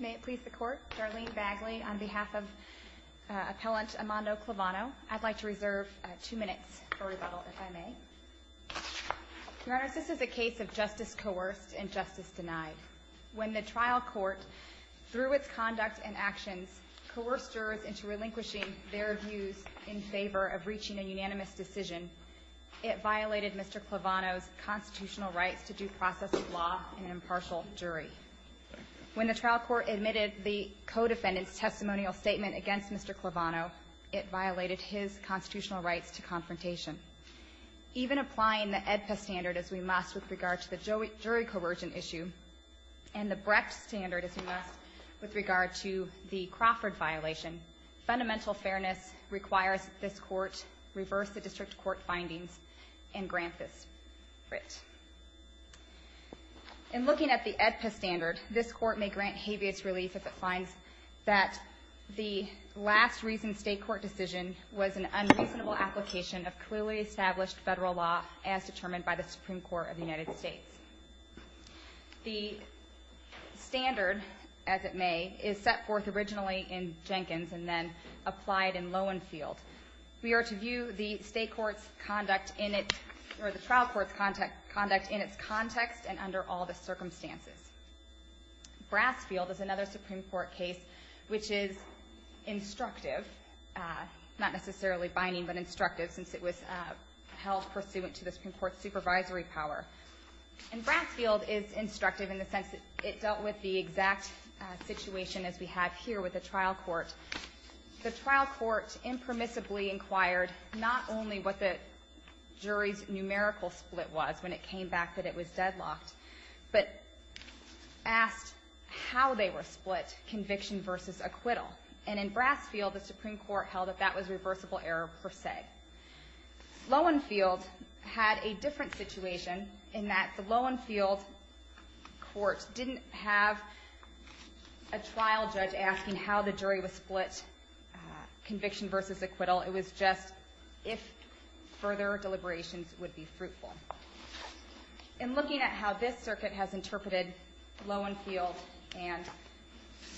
May it please the Court, Darlene Bagley on behalf of Appellant Amando Clavano. I'd like to reserve two minutes for rebuttal, if I may. Your Honor, this is a case of justice coerced and justice denied. When the trial court, through its conduct and actions, coerced jurors into relinquishing their views in favor of reaching a unanimous decision, it violated Mr. Clavano's constitutional rights to due process of law and impartial jury. When the trial court admitted the co-defendant's testimonial statement against Mr. Clavano, it violated his constitutional rights to confrontation. Even applying the AEDPA standard as we must with regard to the jury coercion issue, and the Brecht standard as we must with regard to the Crawford violation, fundamental fairness requires that this Court reverse the district court findings and grant this writ. In looking at the AEDPA standard, this Court may grant habeas relief if it finds that the last reason state court decision was an unreasonable application of clearly established federal law as determined by the Supreme Court of the United States. The standard, as it may, is set forth originally in Jenkins and then applied in Lowenfield. We are to view the state court's conduct in its, or the trial court's conduct in its context and under all the circumstances. Brasfield is another Supreme Court case which is instructive, not necessarily binding, but instructive since it was held pursuant to the Supreme Court's supervisory power. And Brasfield is instructive in the sense that it dealt with the exact situation as we have here with the trial court. The trial court impermissibly inquired not only what the jury's numerical split was when it came back that it was deadlocked, but asked how they were split, conviction versus acquittal. And in Brasfield, the Supreme Court held that that was reversible error per se. Lowenfield had a different situation in that the Lowenfield court didn't have a trial judge asking how the jury was split, conviction versus acquittal. It was just if further deliberations would be fruitful. In looking at how this circuit has interpreted Lowenfield and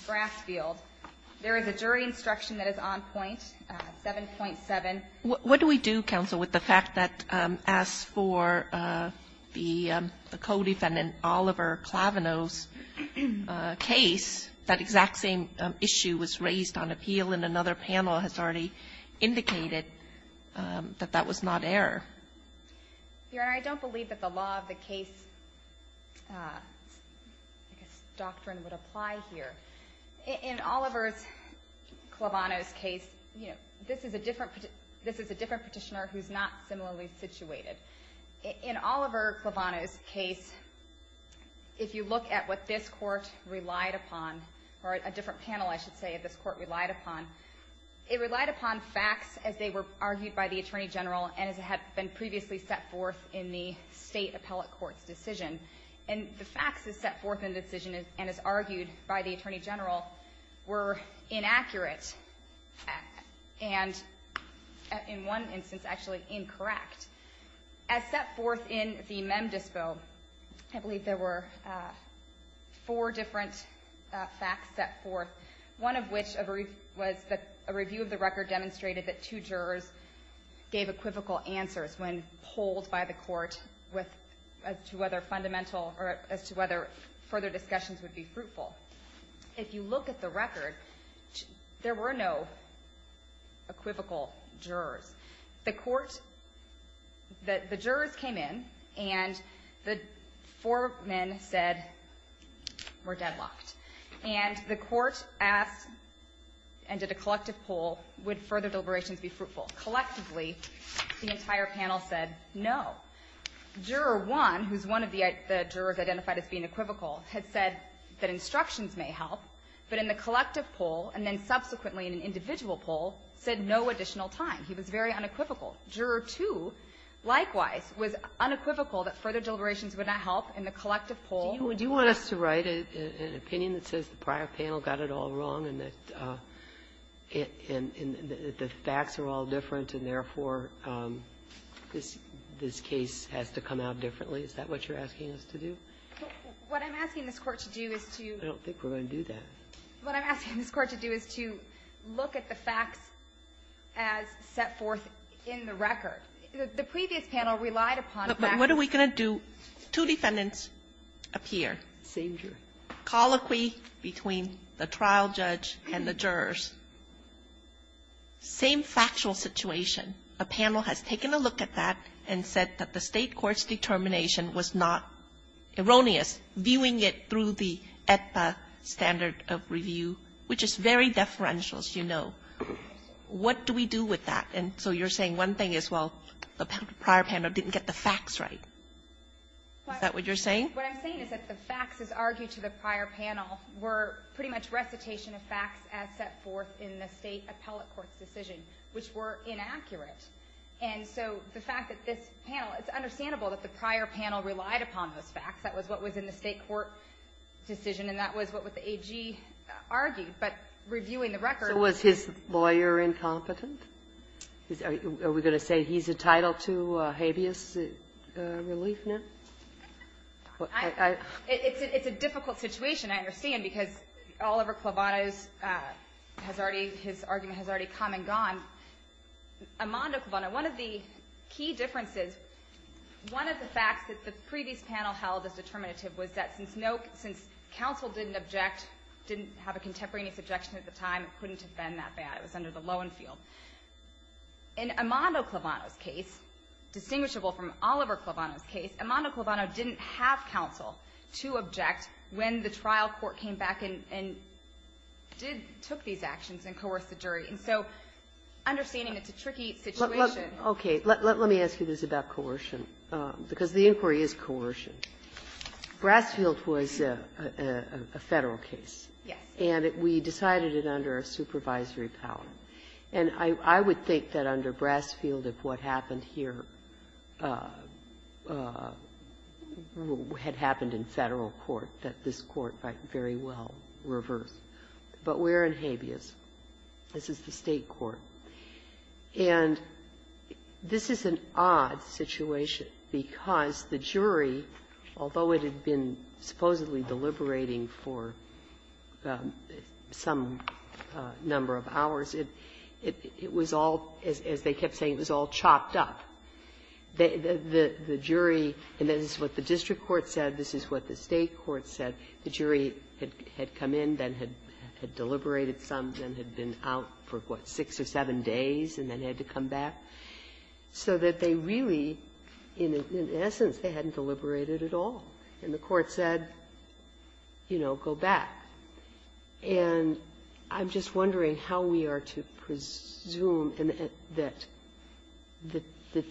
Brasfield, there is a jury instruction that is on point, 7.7. Kagan. What do we do, counsel, with the fact that as for the co-defendant Oliver Clavino's case, that exact same issue was raised on appeal, and another panel has already indicated that that was not error? Your Honor, I don't believe that the law of the case doctrine would apply here. In Oliver Clavino's case, you know, this is a different petitioner who is not similarly situated. In Oliver Clavino's case, if you look at what this court relied upon, or a different panel, I should say, this court relied upon, it relied upon facts as they were argued by the Attorney General and as had been previously set forth in the State appellate court's decision. And the facts as set forth in the decision and as argued by the Attorney General were inaccurate and, in one instance, actually incorrect. As set forth in the Mem Dispo, I believe there were four different facts set forth. One of which was that a review of the record demonstrated that two jurors gave equivocal answers when polled by the court as to whether fundamental or as to whether further discussions would be fruitful. If you look at the record, there were no equivocal jurors. The court, the jurors came in, and the four men said, we're deadlocked. And the court asked, and did a collective poll, would further deliberations be fruitful. Collectively, the entire panel said no. Juror one, who's one of the jurors identified as being equivocal, had said that instructions may help, but in the collective poll, and then subsequently in an individual poll, said no additional time. He was very unequivocal. Juror two, likewise, was unequivocal that further deliberations would not help in the collective poll. Do you want us to write an opinion that says the prior panel got it all wrong and that the facts are all different and, therefore, this case has to come out differently? Is that what you're asking us to do? What I'm asking this Court to do is to do is to look at the facts as set forth in the record. The previous panel relied upon facts. But what are we going to do? Two defendants appear. Same juror. Colloquy between the trial judge and the jurors. Same factual situation. A panel has taken a look at that and said that the State court's determination was not erroneous, viewing it through the AEDPA standard of review, which is very deferential, as you know. What do we do with that? And so you're saying one thing is, well, the prior panel didn't get the facts right. Is that what you're saying? What I'm saying is that the facts as argued to the prior panel were pretty much recitation of facts as set forth in the State appellate court's decision, which were inaccurate. And so the fact that this panel – it's understandable that the prior panel relied upon those facts. That was what was in the State court decision, and that was what the AG argued. But reviewing the record – So was his lawyer incompetent? Are we going to say he's entitled to habeas relief now? It's a difficult situation, I understand, because Oliver Clavado's – his argument has already come and gone. Amando Clavado, one of the key differences – one of the facts that the previous panel held as determinative was that since counsel didn't object, didn't have a contemporaneous objection at the time, it couldn't have been that bad. It was under the Loewen field. In Amando Clavado's case, distinguishable from Oliver Clavado's case, Amando Clavado didn't have counsel to object when the trial court came back and did – took these actions and coerced the jury. And so understanding it's a tricky situation. Okay. Let me ask you this about coercion, because the inquiry is coercion. Brasfield was a Federal case. Yes. And we decided it under a supervisory power. And I would think that under Brasfield, if what happened here had happened in Federal court, that this Court might very well reverse. But we're in habeas. This is the State court. And this is an odd situation, because the jury, although it had been supposedly deliberating for some number of hours, it was all, as they kept saying, it was all chopped up. The jury – and this is what the district court said. This is what the State court said. The jury had come in, then had deliberated some, then had been out for, what, six or seven days, and then had to come back. So that they really, in essence, they hadn't deliberated at all. And the Court said, you know, go back. And I'm just wondering how we are to presume that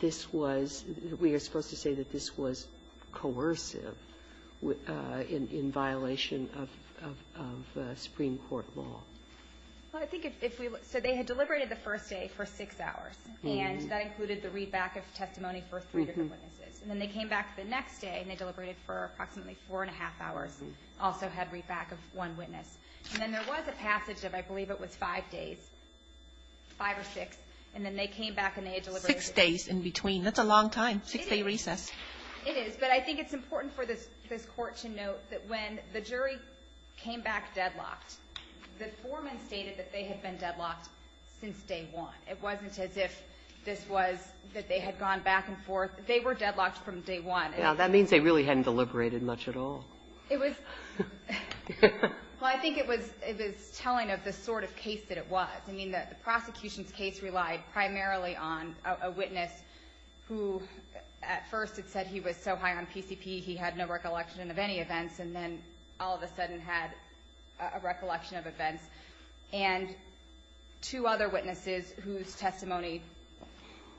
this was – that we are supposed to say that this was coercive in violation of Supreme Court law. Well, I think if we – so they had deliberated the first day for six hours. And that included the readback of testimony for three different witnesses. And then they came back the next day, and they deliberated for approximately four and a half hours. Also had readback of one witness. And then there was a passage of, I believe it was five days, five or six. And then they came back and they had deliberated. Six days in between. That's a long time. Six-day recess. It is. But I think it's important for this Court to note that when the jury came back deadlocked, the foreman stated that they had been deadlocked since day one. It wasn't as if this was – that they had gone back and forth. They were deadlocked from day one. Now, that means they really hadn't deliberated much at all. It was – well, I think it was telling of the sort of case that it was. I mean, the prosecution's case relied primarily on a witness who, at first, had said he was so high on PCP he had no recollection of any events. And then all of a sudden had a recollection of events. And two other witnesses whose testimony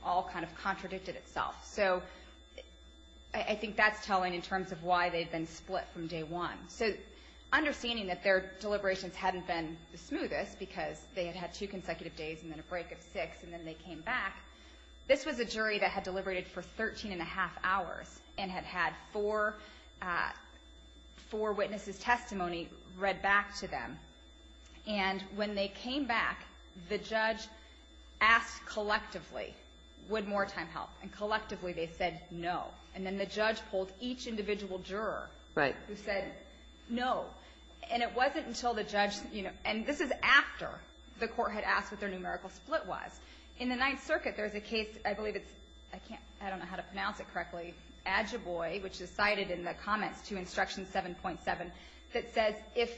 all kind of contradicted itself. So I think that's telling in terms of why they'd been split from day one. So understanding that their deliberations hadn't been the smoothest because they had had two consecutive days and then a break of six and then they came back, this was a jury that had deliberated for 13 and a half hours and had had four witnesses' testimony read back to them. And when they came back, the judge asked collectively, would more time help? And collectively, they said no. And then the judge pulled each individual juror who said no. And it wasn't until the judge – and this is after the court had asked what their numerical split was. In the Ninth Circuit, there's a case – I believe it's – I can't – I don't know how to pronounce it correctly. Adjuboy, which is cited in the comments to Instruction 7.7, that says, if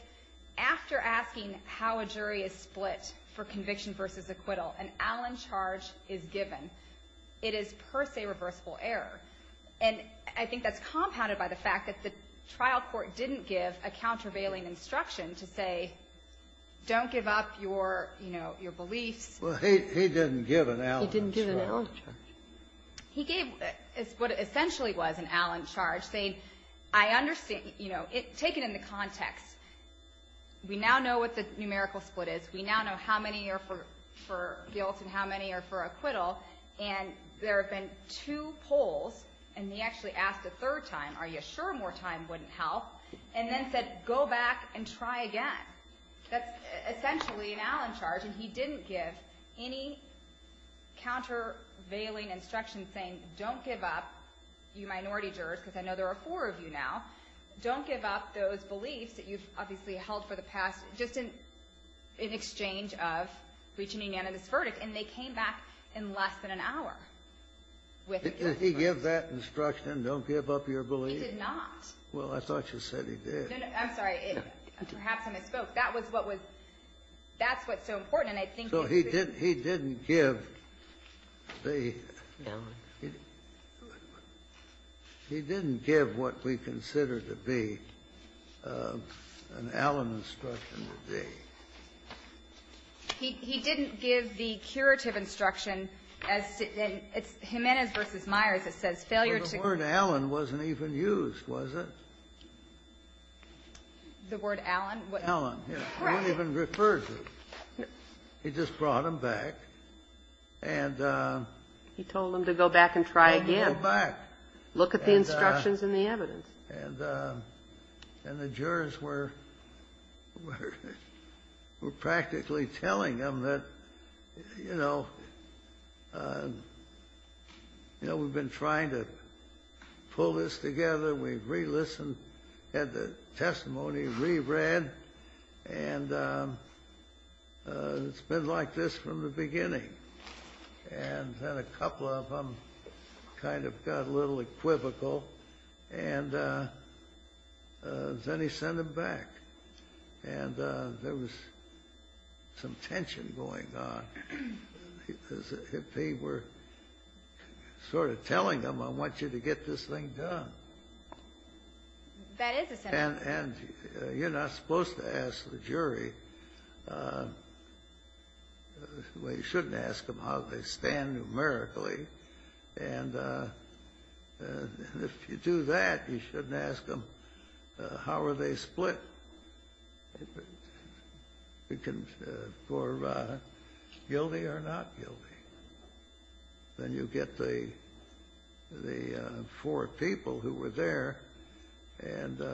after asking how a jury is split for conviction versus acquittal, an Allen charge is given, it is per se reversible error. And I think that's compounded by the fact that the trial court didn't give a countervailing instruction to say, don't give up your, you know, your beliefs. Well, he didn't give an Allen charge. He didn't give an Allen charge. He gave what essentially was an Allen charge, saying, I understand – you know, take it in the context. We now know what the numerical split is. We now know how many are for guilt and how many are for acquittal. And there have been two polls, and he actually asked a third time, are you sure more time wouldn't help? And then said, go back and try again. That's essentially an Allen charge, and he didn't give any countervailing instruction saying, don't give up, you minority jurors – because I know there are four of you now – don't give up those beliefs that you've obviously held for the past, just in exchange of reaching a unanimous verdict. And they came back in less than an hour with a unanimous verdict. Did he give that instruction, don't give up your beliefs? He did not. Well, I thought you said he did. No, no. I'm sorry. Perhaps I misspoke. That was what was – that's what's so important. And I think if we could go back and look at it, I think that's what's so important. He didn't give the curative instruction as to – it's Jimenez v. Myers that says failure to – Well, the word Allen wasn't even used, was it? The word Allen? Allen, yes. Correct. It wasn't even referred to. He just brought them back and – He told them to go back and try again. Go back. Look at the instructions and the evidence. And the jurors were practically telling them that, you know, we've been trying to pull this together. We've re-listened, had the testimony re-read. And it's been like this from the beginning. And then a couple of them kind of got a little equivocal. And then he sent them back. And there was some tension going on because if they were sort of telling them, I want you to get this thing done. That is a sentence. And you're not supposed to ask the jury – well, you shouldn't ask them how they stand numerically. And if you do that, you shouldn't ask them how are they split, guilty or not guilty. Then you get the four people who were there. And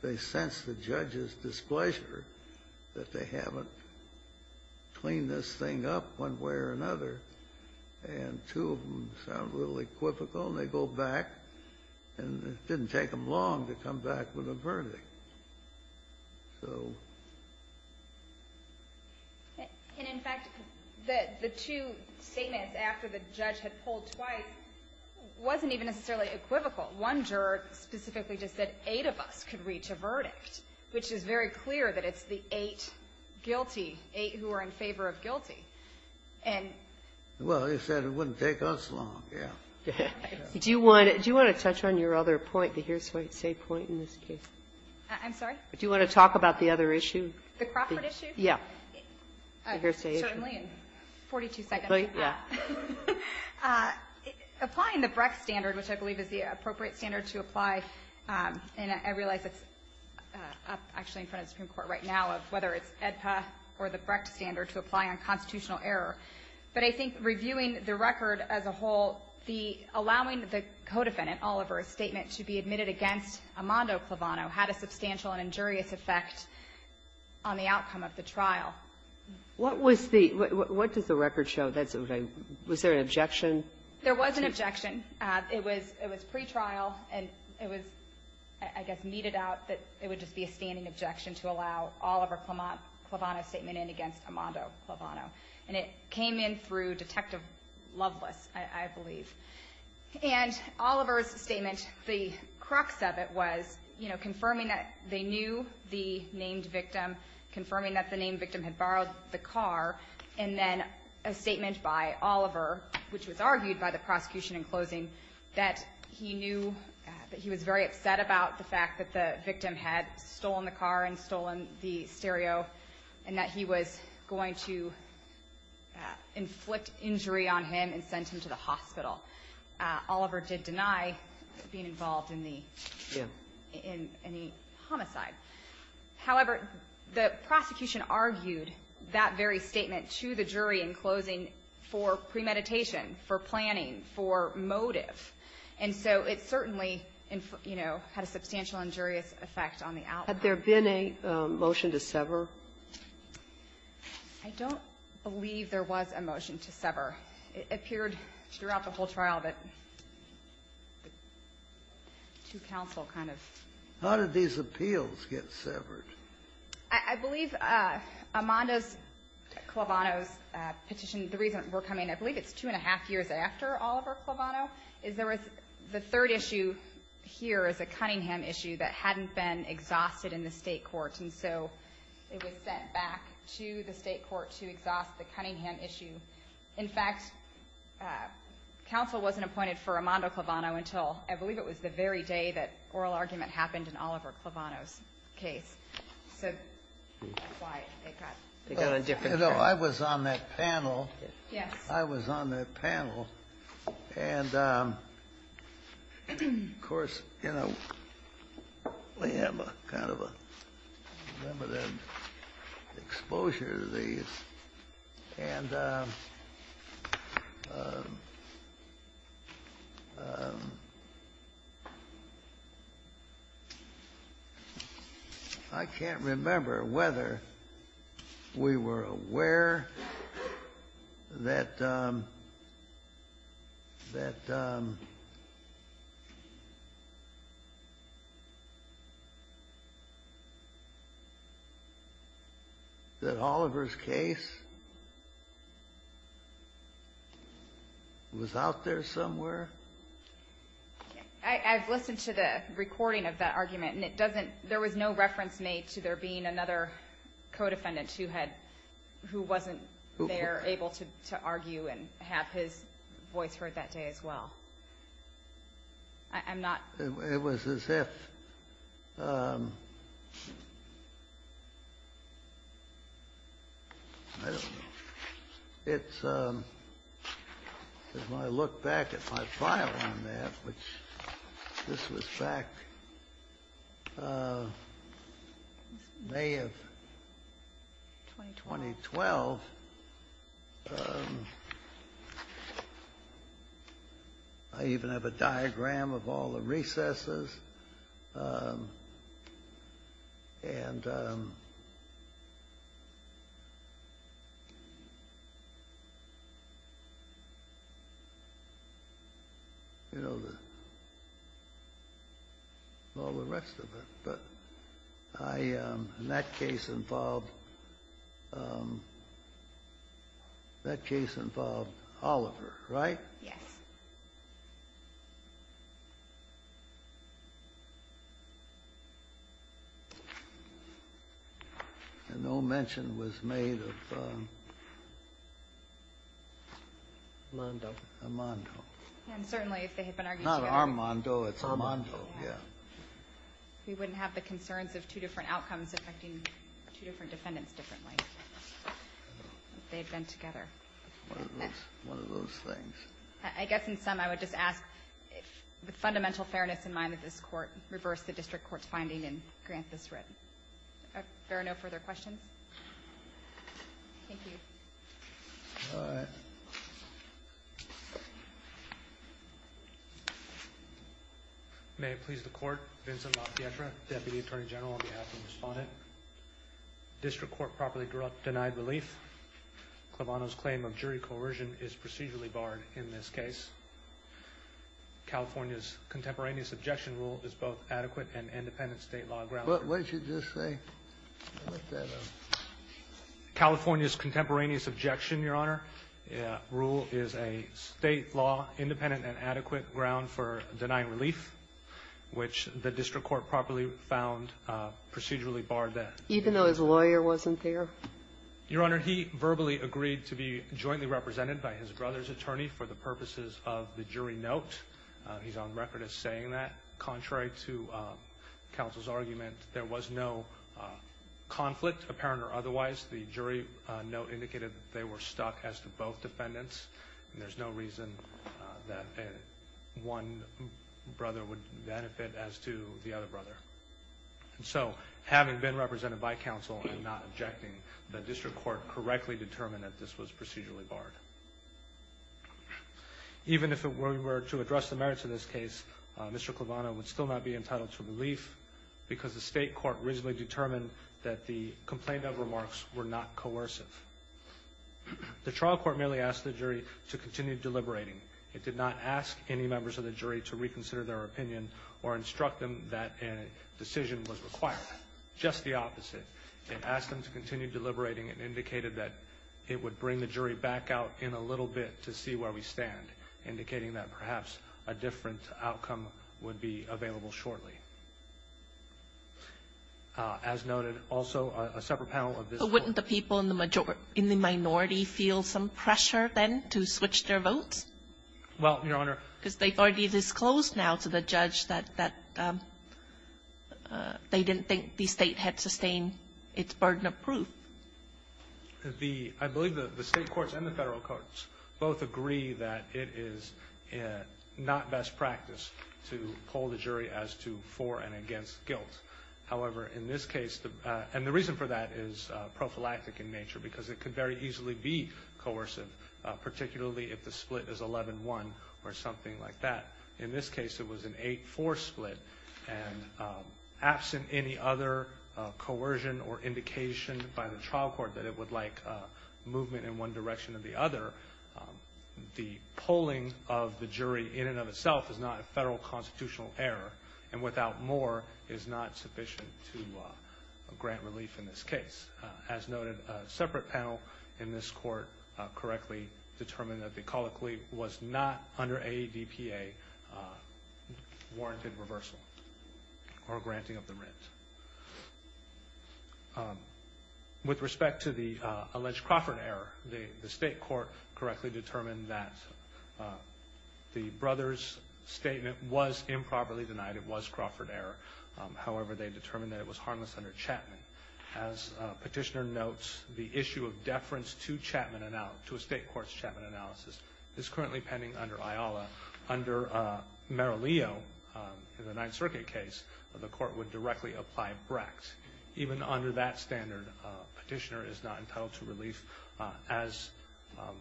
they sense the judge's displeasure that they haven't cleaned this thing up one way or another. And two of them sound a little equivocal. And they go back. And it didn't take them long to come back with a verdict. So. And in fact, the two statements after the judge had pulled twice wasn't even necessarily equivocal. One juror specifically just said eight of us could reach a verdict, which is very clear that it's the eight guilty, eight who are in favor of guilty. And. Well, he said it wouldn't take us long. Yeah. Do you want to touch on your other point, the hearsay point in this case? I'm sorry? Do you want to talk about the other issue? The Crawford issue? Yeah. Certainly, in 42 seconds. Applying the Brecht standard, which I believe is the appropriate standard to apply, and I realize it's up actually in front of the Supreme Court right now, whether it's AEDPA or the Brecht standard to apply on constitutional error. But I think reviewing the record as a whole, the allowing the co-defendant Oliver's statement to be admitted against Amando Clavano had a substantial and injurious effect on the outcome of the trial. What was the, what does the record show? Was there an objection? There was an objection. It was pretrial. And it was, I guess, meted out that it would just be a standing objection to allow Oliver Clavano's statement in against Amando Clavano. And it came in through Detective Loveless, I believe. And Oliver's statement, the crux of it was, you know, confirming that they knew the named victim, confirming that the named victim had borrowed the car, and then a statement by Oliver, which was argued by the prosecution in closing, that he knew that he was very stereo, and that he was going to inflict injury on him and send him to the hospital. Oliver did deny being involved in the homicide. However, the prosecution argued that very statement to the jury in closing for premeditation, for planning, for motive. And so it certainly, you know, had a substantial injurious effect on the outcome. Had there been a motion to sever? I don't believe there was a motion to sever. It appeared throughout the whole trial that the two counsel kind of ---- How did these appeals get severed? I believe Amando's, Clavano's petition, the reason we're coming, I believe it's two and a half years after Oliver Clavano, is there was the third issue here is a Cunningham issue that hadn't been exhausted in the state court. And so it was sent back to the state court to exhaust the Cunningham issue. In fact, counsel wasn't appointed for Amando Clavano until, I believe it was the very day that oral argument happened in Oliver Clavano's case. So that's why it got a different ---- You know, I was on that panel. Yes. I was on that panel, and, of course, you know, we have a kind of a limited exposure to these. And I can't remember whether we were aware that the ---- that Oliver's case was a case that was out there somewhere. I've listened to the recording of that argument, and it doesn't ---- there was no reference made to there being another co-defendant who had ---- who wasn't there able to argue and have his voice heard that day as well. I'm not ---- It was as if, I don't know, it's ---- if I look back at my file on that, which this was back May of 2012, I even have a diagram of all the recesses, and, you know, I don't have the ---- all the rest of it. But I ---- and that case involved ---- that case involved Oliver, right? Yes. And no mention was made of Mondo. Of Mondo. And certainly if they had been arguing together. Not Armando. It's Armando. Yeah. We wouldn't have the concerns of two different outcomes affecting two different defendants differently. If they had been together. One of those things. I guess in sum, I would just ask, with fundamental fairness in mind, that this Court reverse the district court's finding and grant this writ. Are there no further questions? Thank you. All right. May it please the Court, Vincent Lafietta, Deputy Attorney General, on behalf of the Respondent, district court properly denied relief. Clevano's claim of jury coercion is procedurally barred in this case. California's contemporaneous objection rule is both adequate and independent State law ground. What did you just say? California's contemporaneous objection, Your Honor, rule is a State law independent and adequate ground for denying relief, which the district court properly found procedurally barred there. Even though his lawyer wasn't there? Your Honor, he verbally agreed to be jointly represented by his brother's attorney for the purposes of the jury note. He's on record as saying that. Contrary to counsel's argument, there was no conflict, apparent or otherwise. The jury note indicated that they were stuck as to both defendants. There's no reason that one brother would benefit as to the other brother. So, having been represented by counsel and not objecting, the district court correctly determined that this was procedurally barred. Even if it were to address the merits of this case, Mr. Clevano would still not be entitled to relief because the state court reasonably determined that the complaint of remarks were not coercive. The trial court merely asked the jury to continue deliberating. It did not ask any members of the jury to reconsider their opinion or instruct them that a decision was required, just the opposite. It asked them to continue deliberating and to allow in a little bit to see where we stand, indicating that perhaps a different outcome would be available shortly. As noted, also, a separate panel of this court. But wouldn't the people in the minority feel some pressure then to switch their votes? Well, Your Honor. Because they've already disclosed now to the judge that they didn't think the state had sustained its burden of proof. The, I believe the state courts and the federal courts both agree that it is not best practice to poll the jury as to for and against guilt. However, in this case, and the reason for that is prophylactic in nature, because it could very easily be coercive, particularly if the split is 11-1 or something like that. In this case, it was an 8-4 split, and absent any other coercion or trial court that it would like movement in one direction or the other, the polling of the jury in and of itself is not a federal constitutional error. And without more is not sufficient to grant relief in this case. As noted, a separate panel in this court correctly determined that the colloquy was not under ADPA warranted reversal or granting of the rent. With respect to the alleged Crawford error, the state court correctly determined that the brother's statement was improperly denied, it was Crawford error. However, they determined that it was harmless under Chapman. As petitioner notes, the issue of deference to Chapman, to a state court's Chapman analysis, is currently pending under IOLA. Under Merileo, in the Ninth Circuit case, the court would directly apply Brax. Even under that standard, petitioner is not entitled to relief, as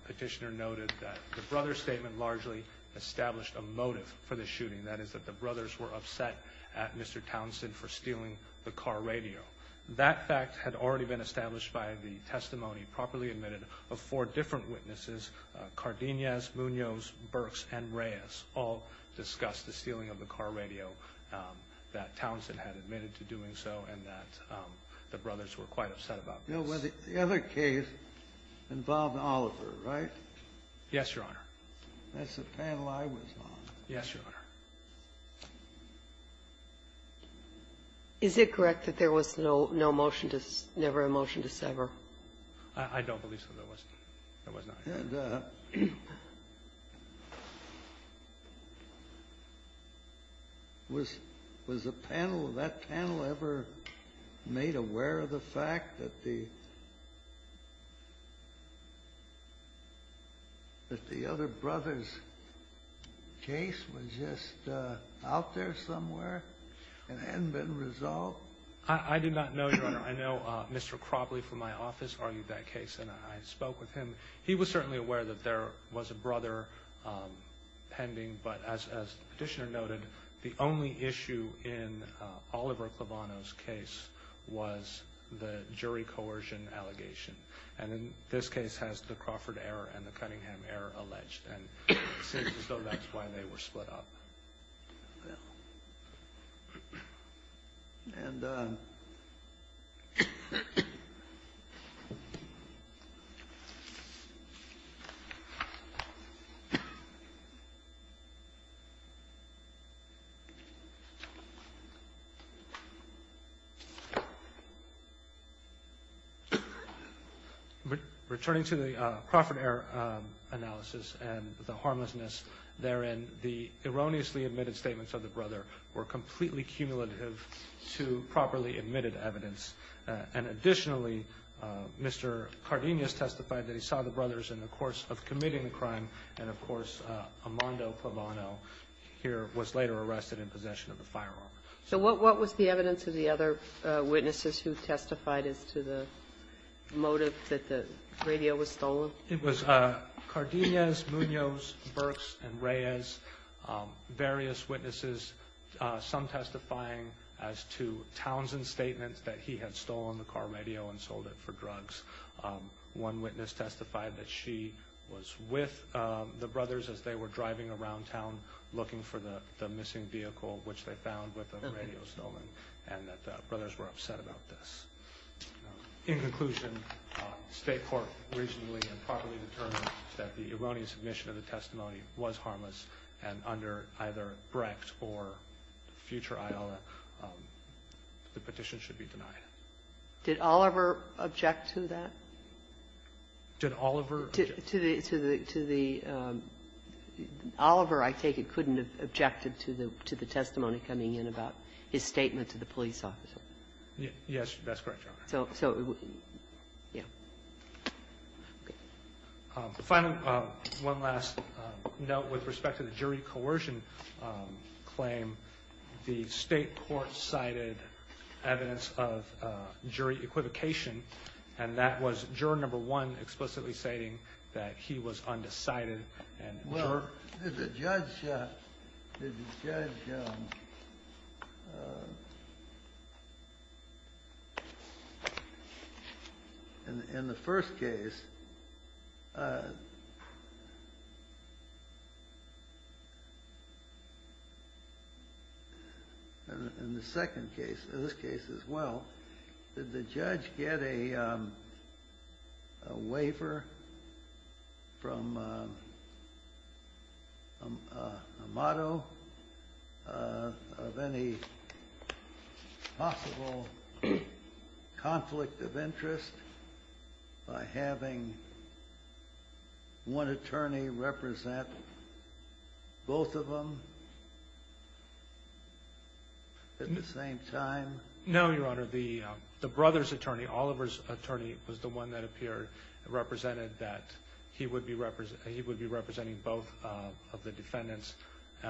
petitioner noted that the brother's statement largely established a motive for the shooting, that is that the brothers were upset at Mr. Townsend for stealing the car radio. That fact had already been established by the testimony properly admitted of four different witnesses, Cardenas, Munoz, Burks, and Reyes, all discussed the stealing of the car radio, that Townsend had admitted to doing so, and that the brothers were quite upset about this. The other case involved Oliver, right? Yes, Your Honor. That's the panel I was on. Yes, Your Honor. Is it correct that there was no motion to sever, never a motion to sever? I don't believe so. There was not. And was the panel, that panel ever made aware of the fact that the other brother's case was just out there somewhere and hadn't been resolved? I do not know, Your Honor. I know Mr. Crobley from my office argued that case, and I spoke with him. He was certainly aware that there was a brother pending, but as the petitioner noted, the only issue in Oliver Clevano's case was the jury coercion allegation. And in this case, has the Crawford error and the Cunningham error alleged? And it seems as though that's why they were split up. Well, and returning to the Crawford error analysis and the harmlessness therein, the erroneously admitted statements of the brother were completely cumulative to properly admitted evidence. And additionally, Mr. Cardenas testified that he saw the brothers in the course of committing the crime, and of course, Armando Clevano here was later arrested in possession of the firearm. So what was the evidence of the other witnesses who testified as to the motive that the radio was stolen? It was Cardenas, Munoz, Burks, and Reyes, various witnesses, some testifying as to Townsend's statements that he had stolen the car radio and sold it for drugs. One witness testified that she was with the brothers as they were driving around town looking for the missing vehicle, which they found with the radio stolen, and that the brothers were upset about this. In conclusion, State court reasonably and properly determined that the erroneous admission of the testimony was harmless, and under either Brecht or future IOLA, the petition should be denied. Did Oliver object to that? Did Oliver object? To the — to the — to the — Oliver, I take it, couldn't have objected to the testimony coming in about his statement to the police officer? Yes, that's correct, Your Honor. So — so, yeah. Finally, one last note with respect to the jury coercion claim. The State court cited evidence of jury equivocation, and that was juror number one explicitly stating that he was undecided, and juror — and in the first case — and in the second case, in this case as well, did the judge get a — a waiver from a — a motto of any possible conflict of interest by having one attorney represent both of them at the same time? No, Your Honor, the — the brother's attorney, Oliver's attorney, was the one that appeared — represented that he would be — he would be representing both of the defendants, the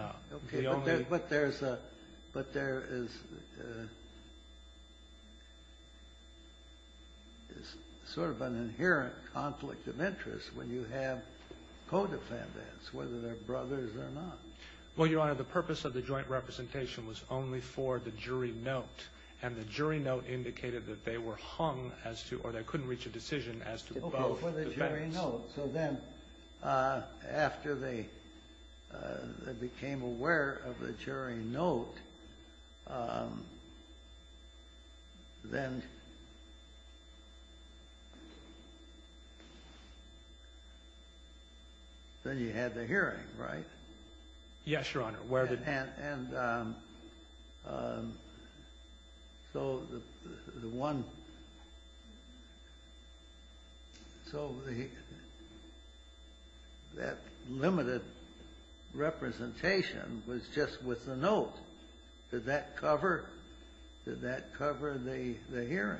only — Okay, but there's a — but there is sort of an inherent conflict of interest when you have co-defendants, whether they're brothers or not. Well, Your Honor, the purpose of the joint representation was only for the jury note, and the jury note indicated that they were hung as to — or they couldn't reach a decision as to both defendants. Oh, for the jury note. So then after they — they became aware of the jury note, then — then you had the hearing, right? Yes, Your Honor, where the — And — and so the — the one — so the — that limited representation was just with the note. Did that cover — did that cover the — the hearing?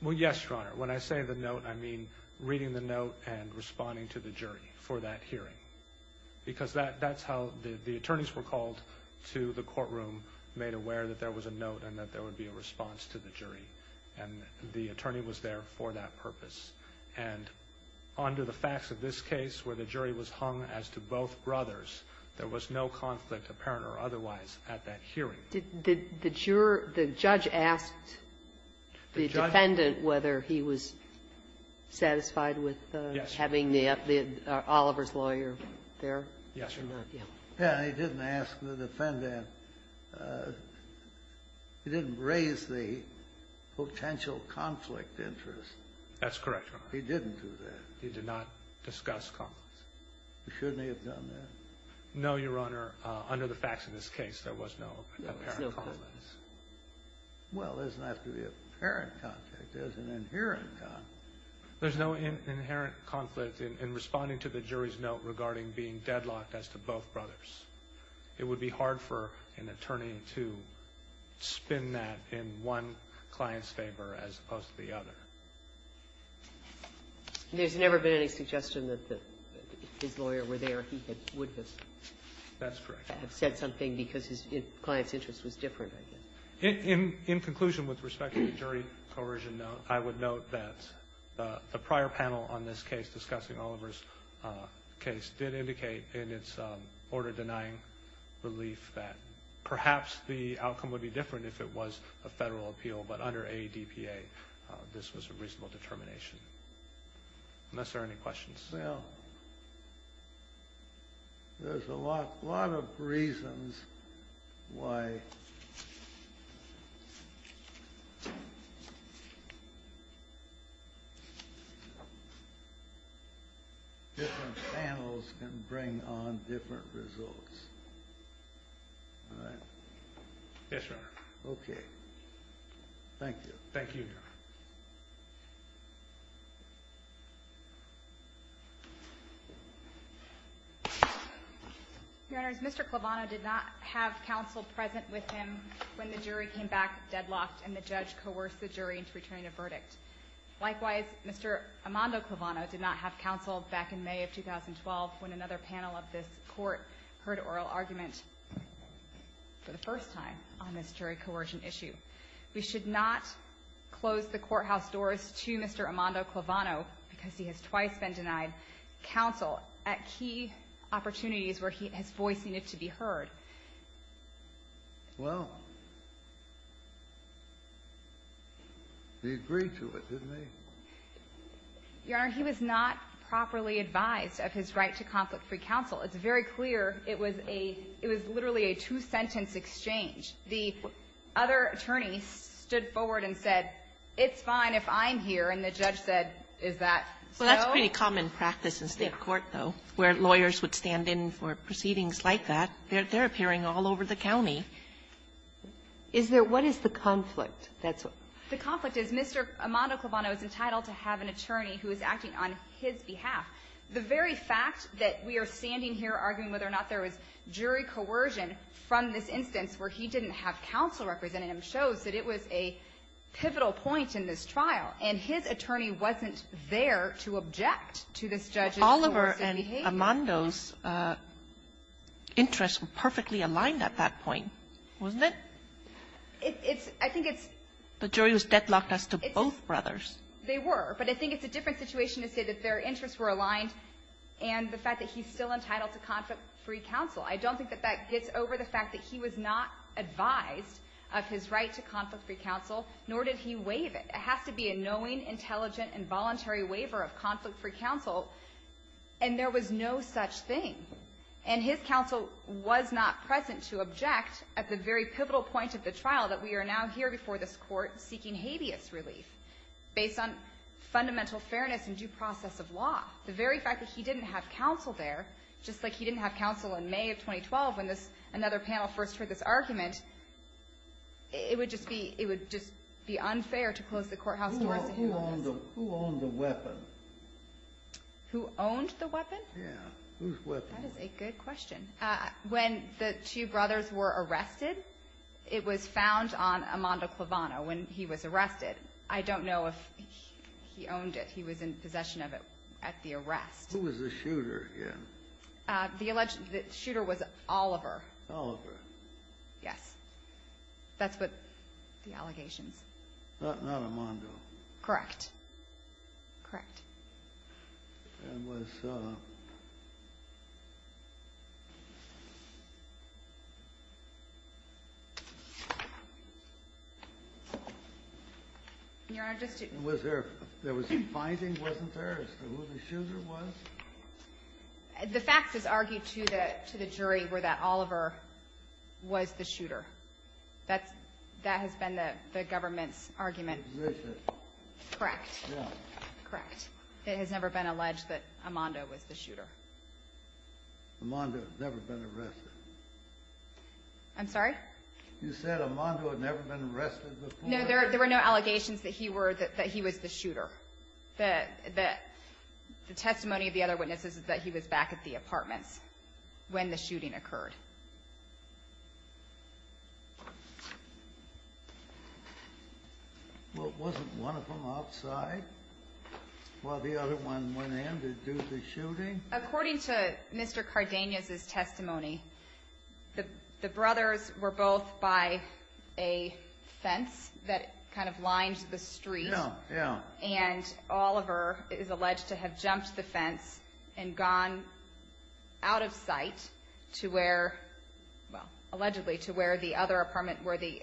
Well, yes, Your Honor. When I say the note, I mean reading the note and responding to the jury for that So the attorneys were called to the courtroom, made aware that there was a note and that there would be a response to the jury. And the attorney was there for that purpose. And under the facts of this case, where the jury was hung as to both brothers, there was no conflict, apparent or otherwise, at that hearing. Did — did the juror — the judge asked the defendant whether he was satisfied Yes, Your Honor. Yeah, and he didn't ask the defendant — he didn't raise the potential conflict interest. That's correct, Your Honor. He didn't do that. He did not discuss conflicts. Shouldn't he have done that? No, Your Honor. Under the facts of this case, there was no apparent conflict. There was no conflict. Well, there doesn't have to be an apparent conflict. There's an inherent conflict. There's no inherent conflict in responding to the jury's note regarding being deadlocked as to both brothers. It would be hard for an attorney to spin that in one client's favor as opposed to the other. There's never been any suggestion that his lawyer were there, he would have That's correct. said something because his client's interest was different, I guess. In conclusion, with respect to the jury coercion note, I would note that the prior panel on this case discussing Oliver's case did indicate in its order denying relief that perhaps the outcome would be different if it was a federal appeal, but under ADPA, this was a reasonable determination. Unless there are any questions. Well, there's a lot of reasons why different panels can bring on different results. Yes, Your Honor. Okay. Thank you. Thank you, Your Honor. Your Honor, Mr. Clevano did not have counsel present with him when the jury came back deadlocked and the judge coerced the jury into returning a verdict. Likewise, Mr. Armando Clevano did not have counsel back in May of 2012 when another panel of this court heard oral argument for the first time on this jury coercion issue. We should not close the courthouse doors to Mr. Armando Clevano because he has twice been denied counsel at key opportunities where he has voicing it to be heard. Well, he agreed to it, didn't he? Your Honor, he was not properly advised of his right to conflict-free counsel. It's very clear it was a – it was literally a two-sentence exchange. The other attorney stood forward and said, it's fine if I'm here, and the judge said, is that so? Well, that's pretty common practice in state court, though, where lawyers would stand in for proceedings like that. They're appearing all over the county. Is there – what is the conflict? The conflict is Mr. Armando Clevano is entitled to have an attorney who is acting on his behalf. The very fact that we are standing here arguing whether or not there was jury coercion from this instance where he didn't have counsel representing him shows that it was a pivotal point in this trial. And his attorney wasn't there to object to this judge's coercive behavior. But Oliver and Armando's interests were perfectly aligned at that point, wasn't it? It's – I think it's – The jury was deadlocked as to both brothers. They were. But I think it's a different situation to say that their interests were aligned and the fact that he's still entitled to conflict-free counsel. I don't think that that gets over the fact that he was not advised of his right to conflict-free counsel, nor did he waive it. It has to be a knowing, intelligent, and voluntary waiver of conflict-free counsel. And there was no such thing. And his counsel was not present to object at the very pivotal point of the trial that we are now here before this Court seeking habeas relief based on fundamental fairness and due process of law. The very fact that he didn't have counsel there, just like he didn't have counsel in May of 2012 when this – another panel first heard this argument, it would just be – it would just be unfair to close the courthouse doors to him. Who owned the weapon? Who owned the weapon? Yeah. Whose weapon? That is a good question. When the two brothers were arrested, it was found on Armando Clavano when he was arrested. I don't know if he owned it. He was in possession of it at the arrest. Who was the shooter again? The alleged – the shooter was Oliver. Oliver. Yes. That's what the allegations. Not Armando. Correct. Correct. And was – Your Honor, just to Was there – there was a finding, wasn't there, as to who the shooter was? The facts is argued to the – to the jury were that Oliver was the shooter. That's – that has been the government's argument. Correct. Yeah. Correct. It has never been alleged that Armando was the shooter. Armando had never been arrested. I'm sorry? You said Armando had never been arrested before? No, there were no allegations that he were – that he was the shooter. The testimony of the other witnesses is that he was back at the apartments when the shooting occurred. Well, wasn't one of them outside while the other one went in to do the shooting? According to Mr. Cardenas' testimony, the brothers were both by a fence that kind of lined the street. Yeah, yeah. And Oliver is alleged to have jumped the fence and gone out of sight to where – well, allegedly to where the other apartment where the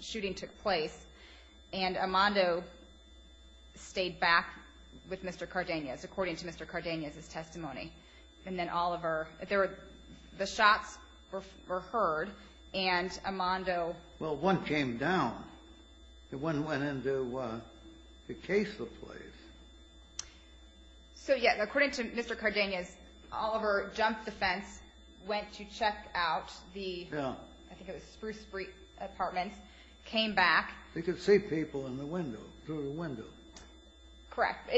shooting took place. And Armando stayed back with Mr. Cardenas according to Mr. Cardenas' testimony. And then Oliver – the shots were heard and Armando – Well, one came down. The one went in to case the place. So, yeah, according to Mr. Cardenas, Oliver jumped the fence, went to check out the – Yeah. I think it was Spruce Street Apartments, came back – He could see people in the window, through the window. Correct.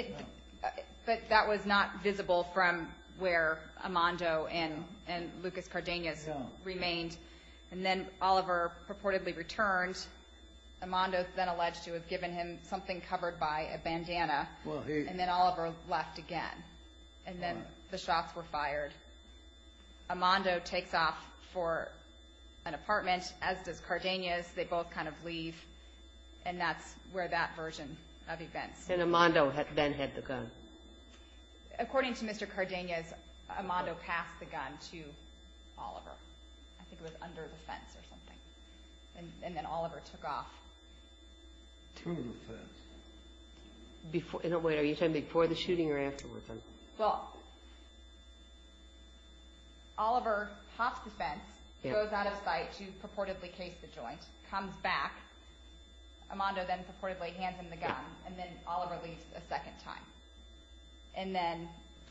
But that was not visible from where Armando and Lucas Cardenas remained. And then Oliver purportedly returned. Armando then alleged to have given him something covered by a bandana. Well, he – And then Oliver left again. And then the shots were fired. Armando takes off for an apartment, as does Cardenas. They both kind of leave. And that's where that version of events – And Armando then had the gun. According to Mr. Cardenas, Armando passed the gun to Oliver. I think it was under the fence or something. And then Oliver took off. To the fence? Before – No, wait. Are you saying before the shooting or after the shooting? Well, Oliver pops the fence, goes out of sight to purportedly case the joint, comes back. Armando then purportedly hands him the gun. And then Oliver leaves a second time. And then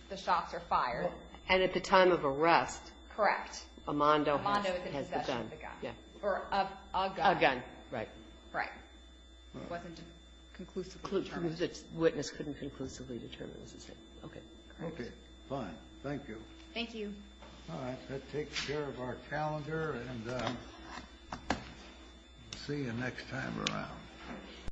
the shots are fired. And at the time of arrest – Correct. Armando has the gun. Armando is in possession of the gun. Yeah. Or of a gun. A gun, right. Right. It wasn't conclusively determined. The witness couldn't conclusively determine. Okay. Okay. Fine. Thank you. Thank you. All right. Let's take care of our calendar and see you next time around.